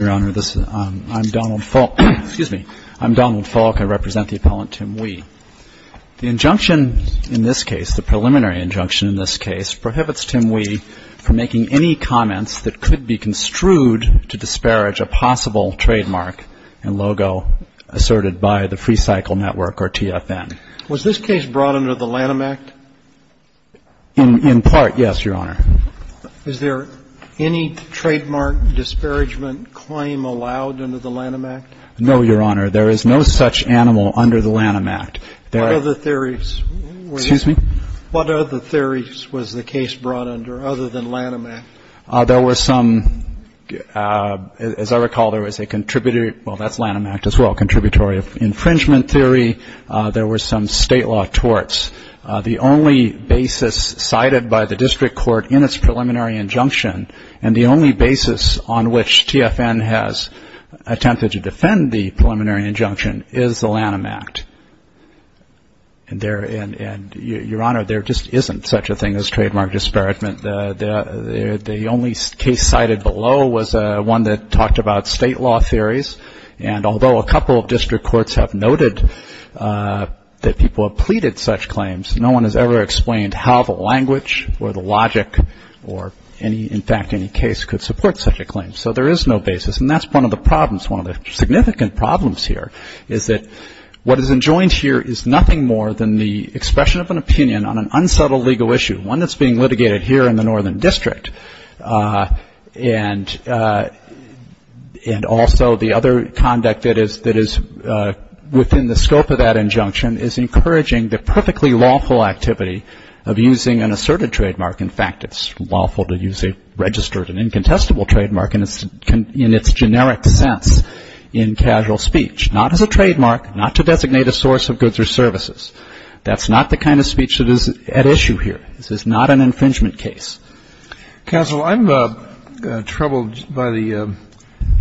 I'm Donald Falk. I represent the appellant Tim Wee. The injunction in this case, the preliminary injunction in this case, prohibits Tim Wee from making any comments that could be construed to disparage a possible trademark and logo asserted by the Freecycle Network or TFN. Was this case brought under the Lanham Act? In part, yes, Your Honor. Is there any trademark disparagement claim allowed under the Lanham Act? No, Your Honor. There is no such animal under the Lanham Act. What other theories was the case brought under other than Lanham Act? There were some, as I recall, there was a contributory, well, that's Lanham Act as well, contributory infringement theory. There were some state law torts. The only basis cited by the district court in its preliminary injunction, and the only basis on which TFN has attempted to defend the preliminary injunction, is the Lanham Act. And there, Your Honor, there just isn't such a thing as trademark disparagement. The only case cited below was one that talked about state law theories. And although a couple of district courts have noted that people have pleaded such claims, no one has ever explained how the language or the logic or any, in fact, any case could support such a claim. So there is no basis. And that's one of the problems, one of the significant problems here is that what is enjoined here is nothing more than the expression of an opinion on an unsubtle legal issue, one that's being litigated here in the Northern District. And also the other conduct that is within the scope of that injunction is encouraging the perfectly lawful activity of using an asserted trademark. In fact, it's lawful to use a registered and incontestable trademark in its generic sense in casual speech, not as a trademark, not to designate a source of goods or services. That's not the kind of speech that is at issue here. This is not an infringement case. Counsel, I'm troubled by the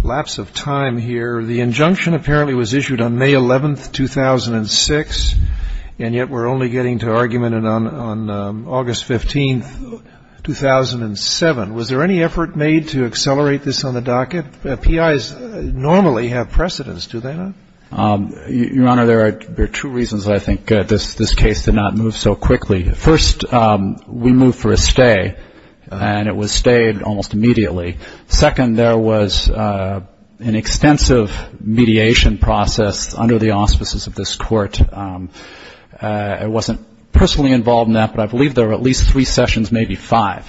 lapse of time here. The injunction apparently was issued on May 11, 2006, and yet we're only getting to argument on August 15, 2007. Was there any effort made to accelerate this on the docket? PIs normally have precedence, do they not? Your Honor, there are two reasons I think this case did not move so quickly. First, we moved for a stay, and it was stayed almost immediately. Second, there was an extensive mediation process under the auspices of this Court. I wasn't personally involved in that, but I believe there were at least three sessions, maybe five.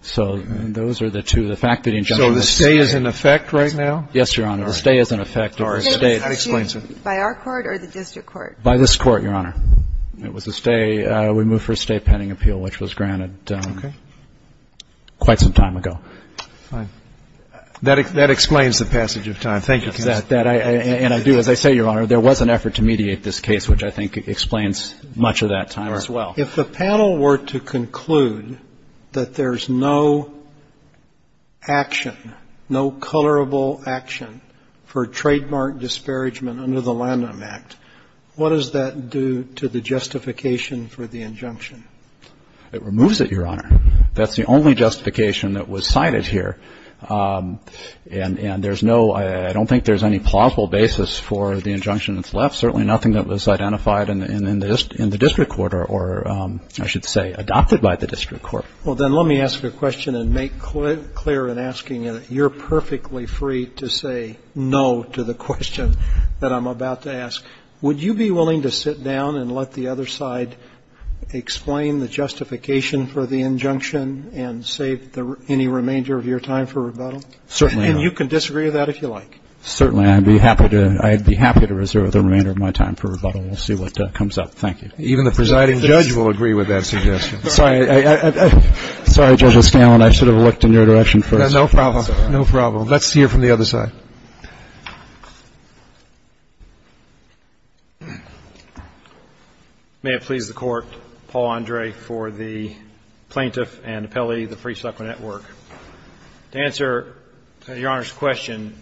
So those are the two. So the stay is in effect right now? Yes, Your Honor, the stay is in effect. Okay. By our court or the district court? By this Court, Your Honor. It was a stay. We moved for a stay pending appeal, which was granted quite some time ago. That explains the passage of time. Thank you, counsel. And I do, as I say, Your Honor, there was an effort to mediate this case, which I think explains much of that time as well. If the panel were to conclude that there's no action, no colorable action for trademark disparagement under the Lanham Act, what does that do to the justification for the injunction? It removes it, Your Honor. That's the only justification that was cited here. And there's no ‑‑ I don't think there's any plausible basis for the injunction that's left. Certainly nothing that was identified in the district court or, I should say, adopted by the district court. Well, then let me ask a question and make clear in asking it that you're perfectly free to say no to the question that I'm about to ask. Would you be willing to sit down and let the other side explain the justification for the injunction and save any remainder of your time for rebuttal? Certainly not. And you can disagree with that if you like. Certainly. I'd be happy to ‑‑ I'd be happy to reserve the remainder of my time for rebuttal. We'll see what comes up. Thank you. Even the presiding judge will agree with that suggestion. Sorry. Sorry, Judge O'Scanlan. I should have looked in your direction first. No problem. No problem. Let's hear from the other side. May it please the Court, Paul Andre for the plaintiff and appellee, the Free Soccer Network. To answer Your Honor's question,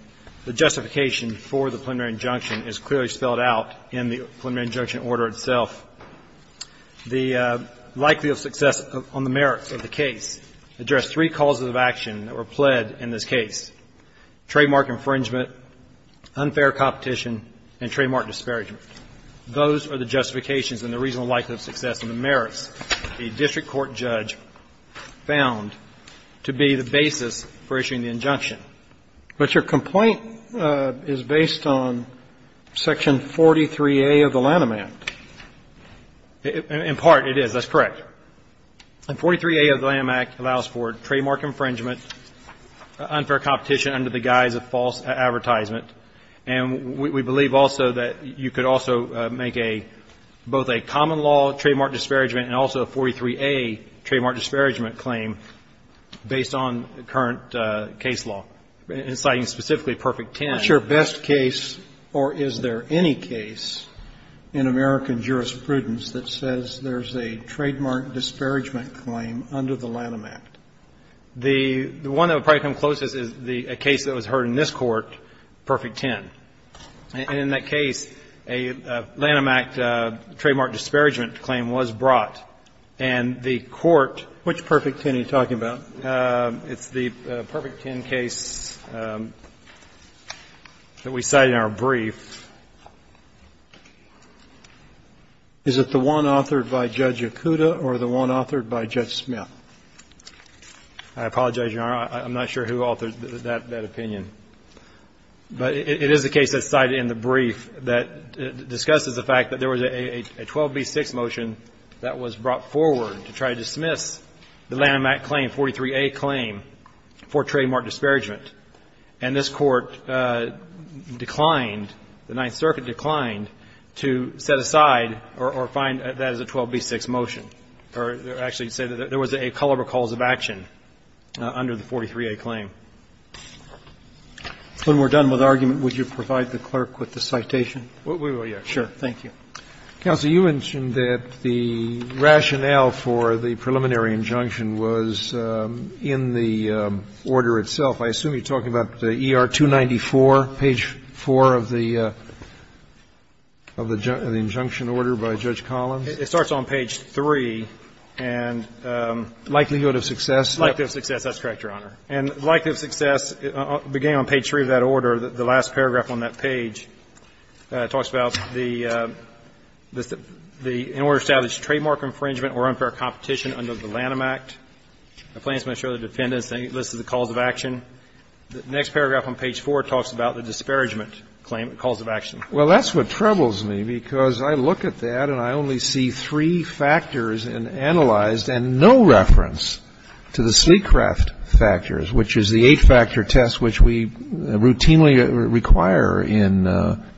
the justification for the preliminary injunction is clearly spelled out in the preliminary injunction order itself. The likelihood of success on the merits of the case address three causes of action that were pled in this case, trademark infringement, unfair competition, and trademark disparagement. Those are the justifications and the reasonable likelihood of success on the merits a district court judge found to be the basis for issuing the injunction. But your complaint is based on Section 43A of the Lanham Act. In part, it is. That's correct. And 43A of the Lanham Act allows for trademark infringement, unfair competition under the guise of false advertisement. And we believe also that you could also make both a common law trademark disparagement and also a 43A trademark disparagement claim based on the current case law, citing specifically Perfect Ten. What's your best case, or is there any case in American jurisprudence that says there's a trademark disparagement claim under the Lanham Act? The one that would probably come closest is a case that was heard in this Court, Perfect Ten. And in that case, a Lanham Act trademark disparagement claim was brought. And the Court ---- Which Perfect Ten are you talking about? It's the Perfect Ten case that we cite in our brief. Is it the one authored by Judge Yakuda or the one authored by Judge Smith? I apologize, Your Honor. I'm not sure who authored that opinion. But it is a case that's cited in the brief that discusses the fact that there was a 12b6 motion that was brought forward to try to dismiss the Lanham Act claim, 43A claim, for trademark disparagement. And this Court declined, the Ninth Circuit declined, to set aside or find that as a 12b6 motion, or actually say that there was a color recalls of action under the 43A claim. When we're done with argument, would you provide the clerk with the citation? We will, yes. Sure. Thank you. Counsel, you mentioned that the rationale for the preliminary injunction was in the order itself. I assume you're talking about the ER-294, page 4 of the injunction order by Judge Collins? It starts on page 3 and the likelihood of success. Likelihood of success. That's correct, Your Honor. And likelihood of success, beginning on page 3 of that order, the last paragraph on that page, talks about the order established trademark infringement or unfair competition under the Lanham Act. The plaintiffs must show their defendants. It lists the cause of action. The next paragraph on page 4 talks about the disparagement claim, the cause of action. Well, that's what troubles me, because I look at that and I only see three factors in analyzed and no reference to the Sleecraft factors, which is the eight-factor test which we routinely require in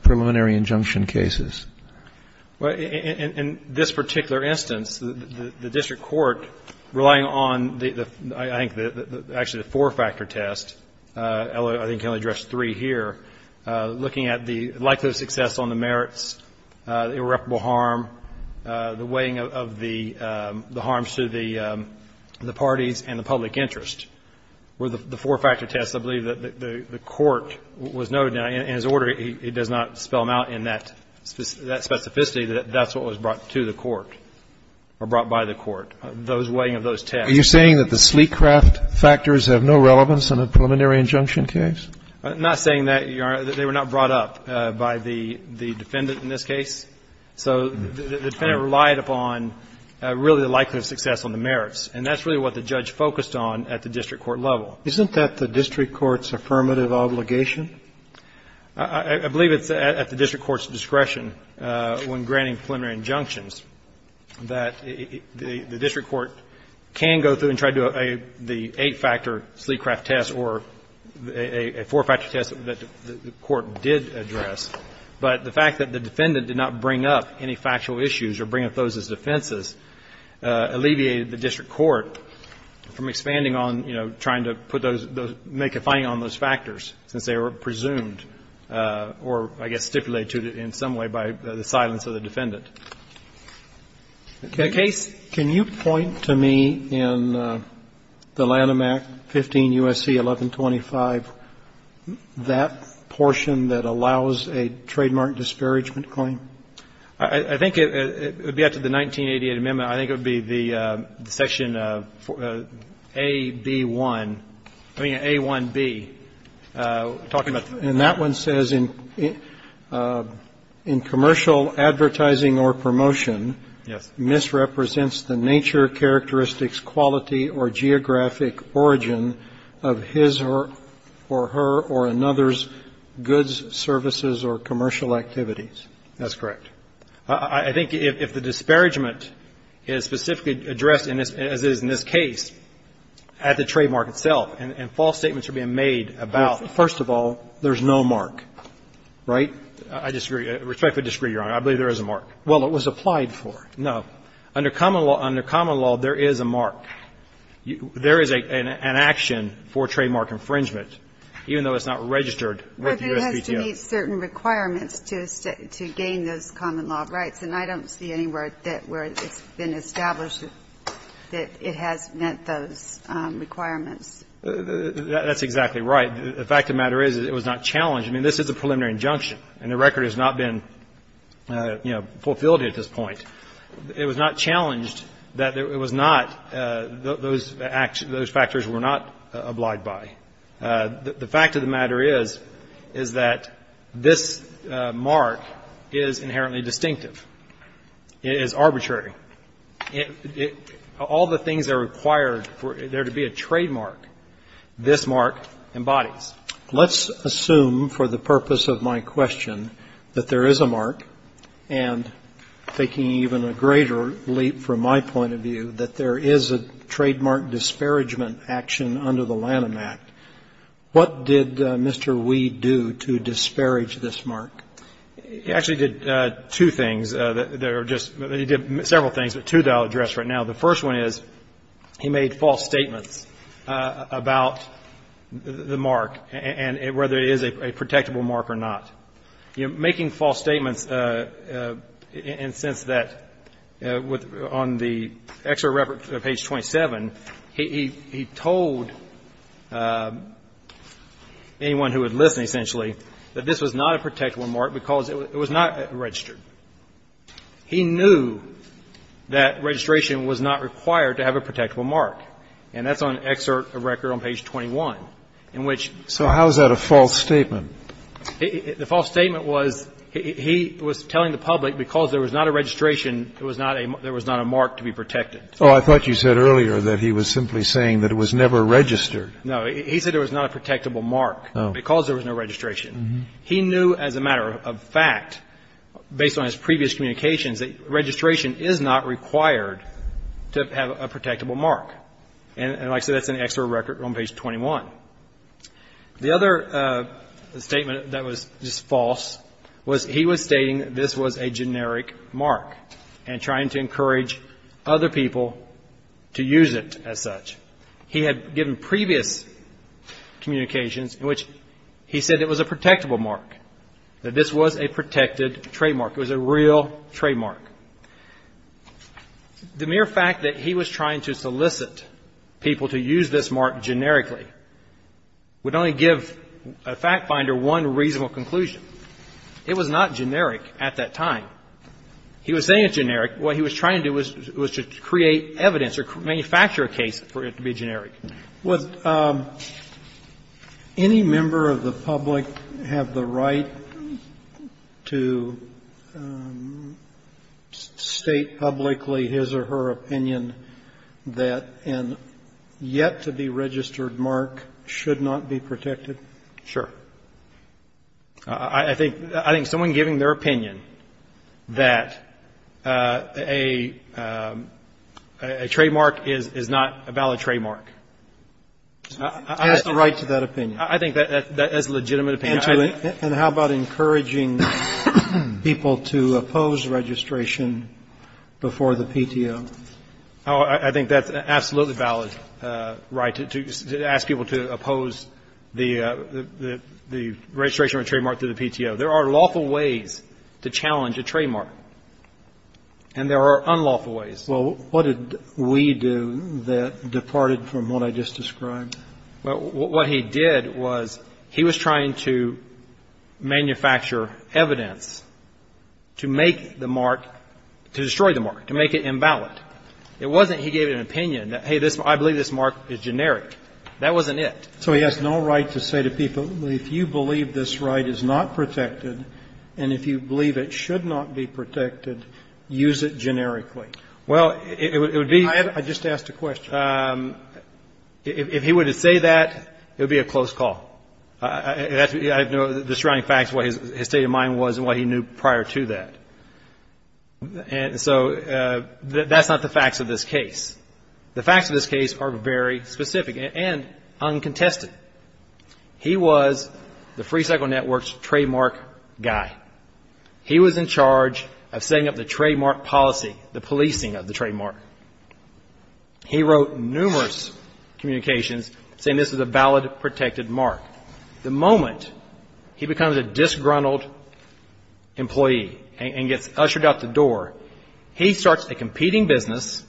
preliminary injunction cases. Well, in this particular instance, the district court, relying on, I think, actually the four-factor test, I think can only address three here, looking at the likelihood of success on the merits, irreparable harm, the weighing of the harms to the parties and the public interest. With the four-factor test, I believe that the court was noted in his order, he does not spell them out in that specificity, that that's what was brought to the court or brought by the court, those weighing of those tests. Are you saying that the Sleecraft factors have no relevance in a preliminary injunction case? I'm not saying that. They were not brought up by the defendant in this case. So the defendant relied upon, really, the likelihood of success on the merits. And that's really what the judge focused on at the district court level. Isn't that the district court's affirmative obligation? I believe it's at the district court's discretion when granting preliminary injunctions that the district court can go through and try to do the eight-factor Sleecraft test or a four-factor test that the court did address, but the fact that the defendant did not bring up any factual issues or bring up those as defenses alleviated the district court from expanding on, you know, trying to put those or make a finding on those factors, since they were presumed or, I guess, stipulated in some way by the silence of the defendant. In that case, can you point to me in the Lanham Act, 15 U.S.C. 1125, that portion that allows a trademark disparagement claim? I think it would be up to the 1988 amendment. I think it would be the section A.B.1, I mean, A.1.B, talking about the ---- And that one says, in commercial advertising or promotion, misrepresents the nature, characteristics, quality, or geographic origin of his or her or another's goods, services, or commercial activities. That's correct. I think if the disparagement is specifically addressed, as it is in this case, at the trademark itself, and false statements are being made about ---- There is no mark, right? I disagree. I respectfully disagree, Your Honor. I believe there is a mark. Well, it was applied for. No. Under common law, under common law, there is a mark. There is an action for trademark infringement, even though it's not registered with the U.S.B.T.O. But there has to be certain requirements to gain those common law rights, and I don't see anywhere that where it's been established that it has met those requirements. That's exactly right. The fact of the matter is, it was not challenged. I mean, this is a preliminary injunction, and the record has not been, you know, fulfilled at this point. It was not challenged that it was not those factors were not obliged by. The fact of the matter is, is that this mark is inherently distinctive. It is arbitrary. All the things that are required for there to be a trademark, this mark embodies. Let's assume, for the purpose of my question, that there is a mark, and taking even a greater leap from my point of view, that there is a trademark disparagement action under the Lanham Act. What did Mr. Weed do to disparage this mark? He actually did two things. He did several things, but two that I'll address right now. The first one is, he made false statements about the mark and whether it is a protectable mark or not. Making false statements in the sense that on the extra reference of page 27, he told anyone who would listen, essentially, that this was not a protectable mark because it was not registered. He knew that registration was not required to have a protectable mark, and that's on excerpt of record on page 21, in which so. So how is that a false statement? The false statement was, he was telling the public, because there was not a registration, there was not a mark to be protected. Oh, I thought you said earlier that he was simply saying that it was never registered. No. He said there was not a protectable mark because there was no registration. He knew as a matter of fact, based on his previous communications, that registration is not required to have a protectable mark. And like I said, that's an excerpt of record on page 21. The other statement that was just false was he was stating this was a generic mark and trying to encourage other people to use it as such. He had given previous communications in which he said it was a protectable mark, that this was a protected trademark. It was a real trademark. The mere fact that he was trying to solicit people to use this mark generically would only give a fact finder one reasonable conclusion. It was not generic at that time. He was saying it's generic. What he was trying to do was to create evidence or manufacture a case for it to be generic. Would any member of the public have the right to state publicly his or her opinion that a yet-to-be-registered mark should not be protected? Sure. I think someone giving their opinion that a trademark is not a valid trademark. He has the right to that opinion. I think that's a legitimate opinion. And how about encouraging people to oppose registration before the PTO? I think that's an absolutely valid right, to ask people to oppose the registration of a trademark through the PTO. There are lawful ways to challenge a trademark. And there are unlawful ways. Well, what did we do that departed from what I just described? Well, what he did was he was trying to manufacture evidence to make the mark, to destroy the mark, to make it invalid. It wasn't he gave an opinion that, hey, I believe this mark is generic. That wasn't it. So he has no right to say to people, if you believe this right is not protected and if you believe it should not be protected, use it generically. Well, it would be ---- I just asked a question. If he were to say that, it would be a close call. I know the surrounding facts, what his state of mind was and what he knew prior to that. And so that's not the facts of this case. The facts of this case are very specific and uncontested. He was the Free Cycle Network's trademark guy. He was in charge of setting up the trademark policy, the policing of the trademark. He wrote numerous communications saying this is a valid, protected mark. The moment he becomes a disgruntled employee and gets ushered out the door, he starts a competing business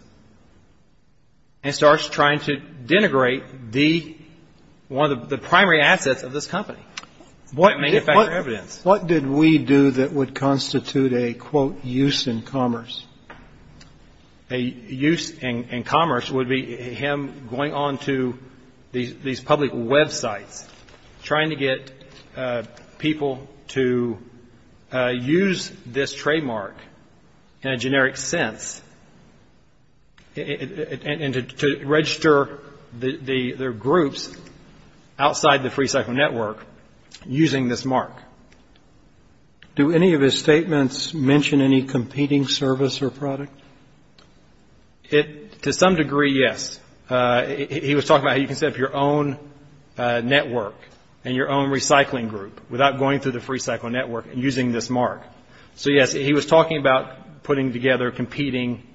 and starts trying to denigrate one of the primary assets of this company, what manufacturer evidence. What did we do that would constitute a, quote, use in commerce? A use in commerce would be him going on to these public Web sites, trying to get people to use this trademark in a generic sense and to register their groups outside the Free Cycle Network using this mark. Do any of his statements mention any competing service or product? To some degree, yes. He was talking about how you can set up your own network and your own recycling group without going through the Free Cycle Network and using this mark. So, yes, he was talking about putting together competing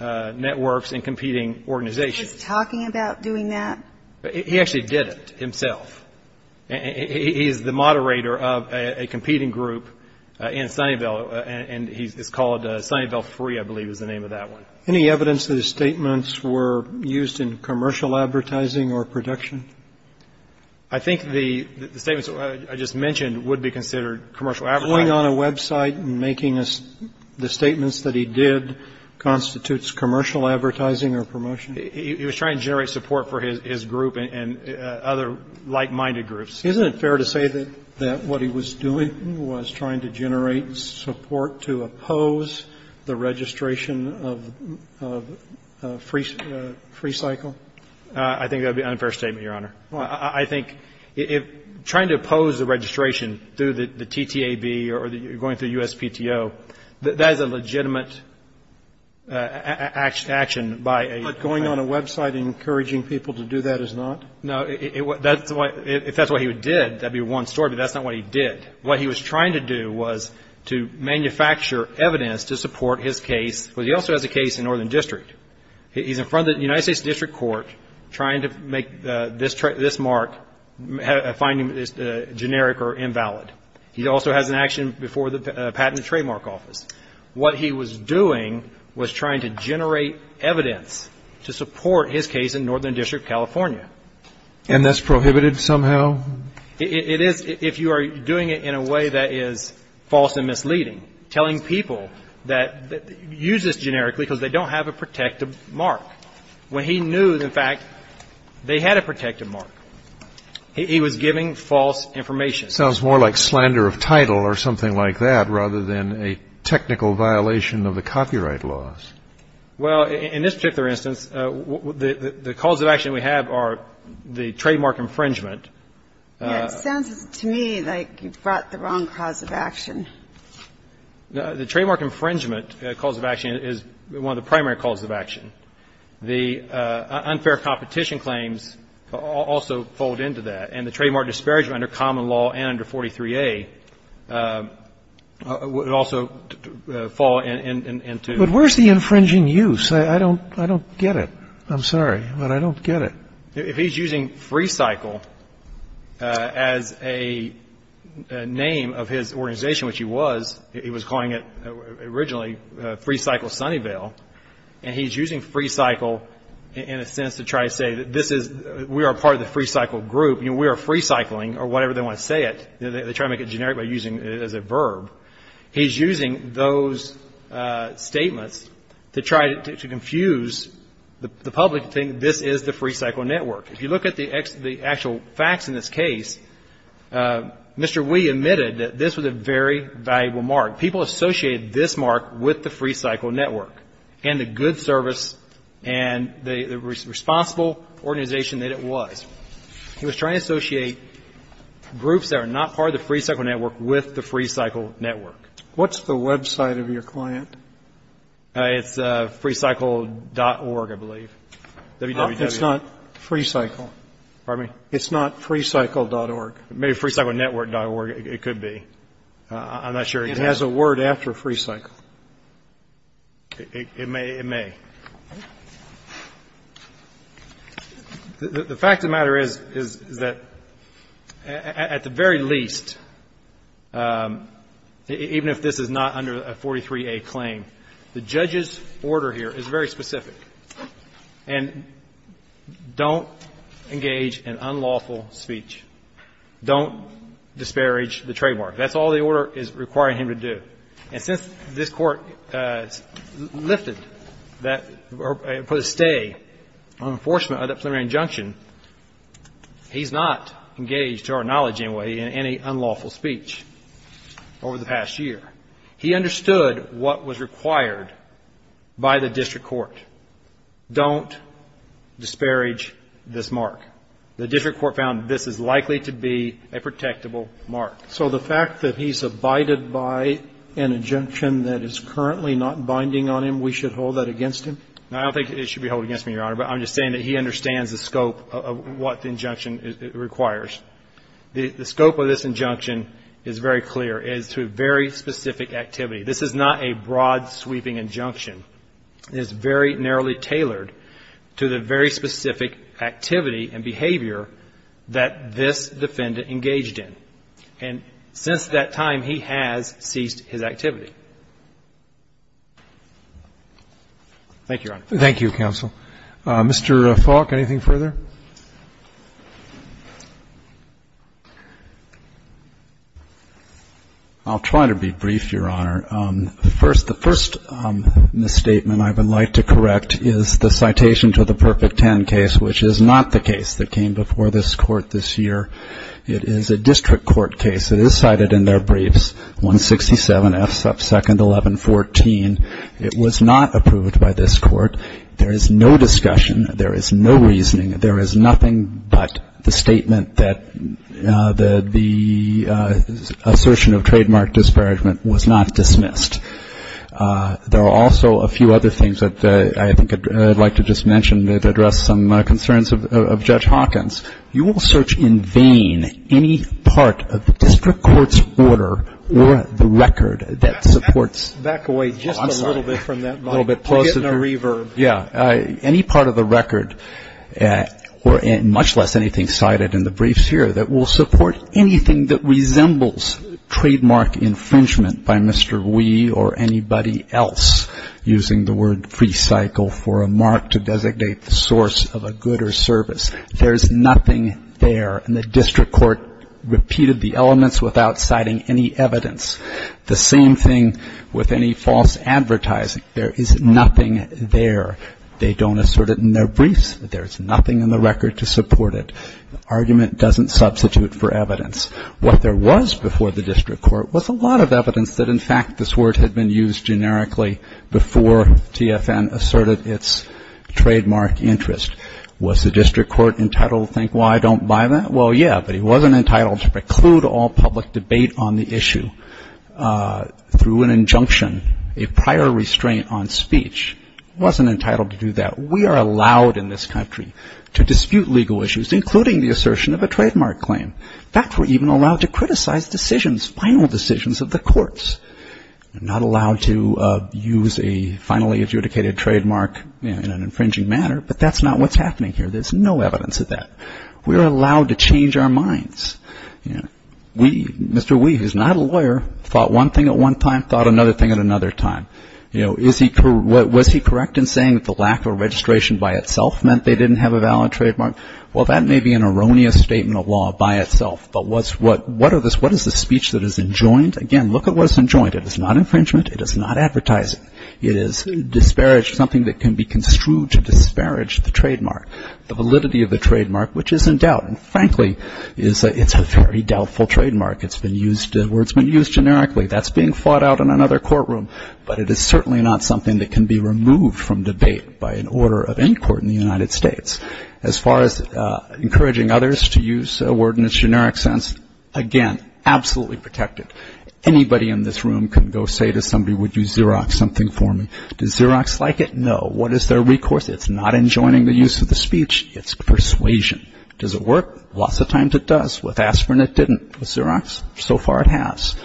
networks and competing organizations. He was talking about doing that? He actually did it himself. He is the moderator of a competing group in Sunnyvale, and it's called Sunnyvale Free, I believe is the name of that one. Any evidence that his statements were used in commercial advertising or production? I think the statements I just mentioned would be considered commercial advertising. Going on a Web site and making the statements that he did constitutes commercial advertising or promotion? He was trying to generate support for his group and other like-minded groups. Isn't it fair to say that what he was doing was trying to generate support to oppose the registration of Free Cycle? I think that would be an unfair statement, Your Honor. Well, I think trying to oppose the registration through the TTAB or going through USPTO, that is a legitimate action by a... But going on a Web site and encouraging people to do that is not? No. If that's what he did, that would be one story, but that's not what he did. What he was trying to do was to manufacture evidence to support his case, but he also has a case in Northern District. He's in front of the United States District Court trying to make this mark, finding it generic or invalid. He also has an action before the Patent and Trademark Office. What he was doing was trying to generate evidence to support his case in Northern District, California. And that's prohibited somehow? It is if you are doing it in a way that is false and misleading, telling people that use this generically because they don't have a protective mark. When he knew, in fact, they had a protective mark, he was giving false information. It sounds more like slander of title or something like that rather than a technical violation of the copyright laws. Well, in this particular instance, the cause of action we have are the trademark infringement. Yes. It sounds to me like you brought the wrong cause of action. The trademark infringement cause of action is one of the primary causes of action. The unfair competition claims also fold into that, and the trademark disparagement under common law and under 43A would also fall into. But where's the infringing use? I don't get it. I'm sorry, but I don't get it. If he's using FreeCycle as a name of his organization, which he was, he was calling it originally FreeCycle Sunnyvale, and he's using FreeCycle in a sense to try to say that this is we are part of the FreeCycle group, you know, we are FreeCycling or whatever they want to say it. They try to make it generic by using it as a verb. He's using those statements to try to confuse the public to think this is the FreeCycle network. If you look at the actual facts in this case, Mr. Wee admitted that this was a very valuable mark. People associated this mark with the FreeCycle network and the good service and the responsible organization that it was. He was trying to associate groups that are not part of the FreeCycle network with the FreeCycle network. What's the website of your client? It's FreeCycle.org, I believe. It's not FreeCycle. Pardon me? It's not FreeCycle.org. Maybe FreeCyclenetwork.org. It could be. I'm not sure. It has a word after FreeCycle. It may. The fact of the matter is, is that at the very least, even if this is not under a 43A claim, the judge's order here is very specific. And don't engage in unlawful speech. Don't disparage the trademark. That's all the order is requiring him to do. And since this court put a stay on enforcement of that preliminary injunction, he's not engaged, to our knowledge anyway, in any unlawful speech over the past year. He understood what was required by the district court. Don't disparage this mark. The district court found this is likely to be a protectable mark. So the fact that he's abided by an injunction that is currently not binding on him, we should hold that against him? No, I don't think it should be held against me, Your Honor. But I'm just saying that he understands the scope of what the injunction requires. The scope of this injunction is very clear. It is to a very specific activity. This is not a broad sweeping injunction. It is very narrowly tailored to the very specific activity and behavior that this defendant engaged in. And since that time, he has ceased his activity. Thank you, Your Honor. Thank you, counsel. Mr. Falk, anything further? I'll try to be brief, Your Honor. The first misstatement I would like to correct is the citation to the Perfect Ten case, which is not the case that came before this Court this year. It is a district court case. It is cited in their briefs, 167F2-1114. It was not approved by this Court. There is no discussion. There is no reasoning. There is nothing but the statement that the assertion of trademark disparagement was not dismissed. There are also a few other things that I think I'd like to just mention that address some concerns of Judge Hawkins. You will search in vain any part of the district court's order or the record that supports... Back away just a little bit from that, Mike. A little bit closer. We're getting a reverb. Yeah. Any part of the record, much less anything cited in the briefs here, that will support anything that resembles trademark infringement by Mr. Wee or anybody else, using the word free cycle for a mark to designate the source of a good or service, there is nothing there. And the district court repeated the elements without citing any evidence. The same thing with any false advertising. There is nothing there. They don't assert it in their briefs. There is nothing in the record to support it. The argument doesn't substitute for evidence. What there was before the district court was a lot of evidence that, in fact, this word had been used generically before TFN asserted its trademark interest. Was the district court entitled to think, why don't I buy that? Well, yeah, but he wasn't entitled to preclude all public debate on the issue. Through an injunction, a prior restraint on speech wasn't entitled to do that. We are allowed in this country to dispute legal issues, including the assertion of a trademark claim. In fact, we're even allowed to criticize decisions, final decisions of the courts. We're not allowed to use a finally adjudicated trademark in an infringing manner, but that's not what's happening here. There's no evidence of that. We're allowed to change our minds. Mr. Wee, who's not a lawyer, thought one thing at one time, thought another thing at another time. Was he correct in saying that the lack of registration by itself meant they didn't have a valid trademark? Well, that may be an erroneous statement of law by itself, but what is the speech that is enjoined? Again, look at what is enjoined. It is not infringement. It is not advertising. It is disparage, something that can be construed to disparage the trademark, the validity of the trademark, which is in doubt. Frankly, it's a very doubtful trademark. Words have been used generically. That's being fought out in another courtroom, but it is certainly not something that can be removed from debate by an order of any court in the United States. As far as encouraging others to use a word in its generic sense, again, absolutely protect it. Anybody in this room can go say to somebody, would you Xerox something for me? Does Xerox like it? No. What is their recourse? It's not enjoining the use of the speech. It's persuasion. Does it work? Lots of times it does. With aspirin, it didn't. With Xerox, so far it has.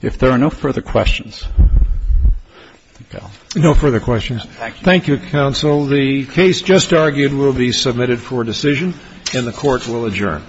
If there are no further questions. Thank you, Counsel. The case just argued will be submitted for decision, and the Court will adjourn.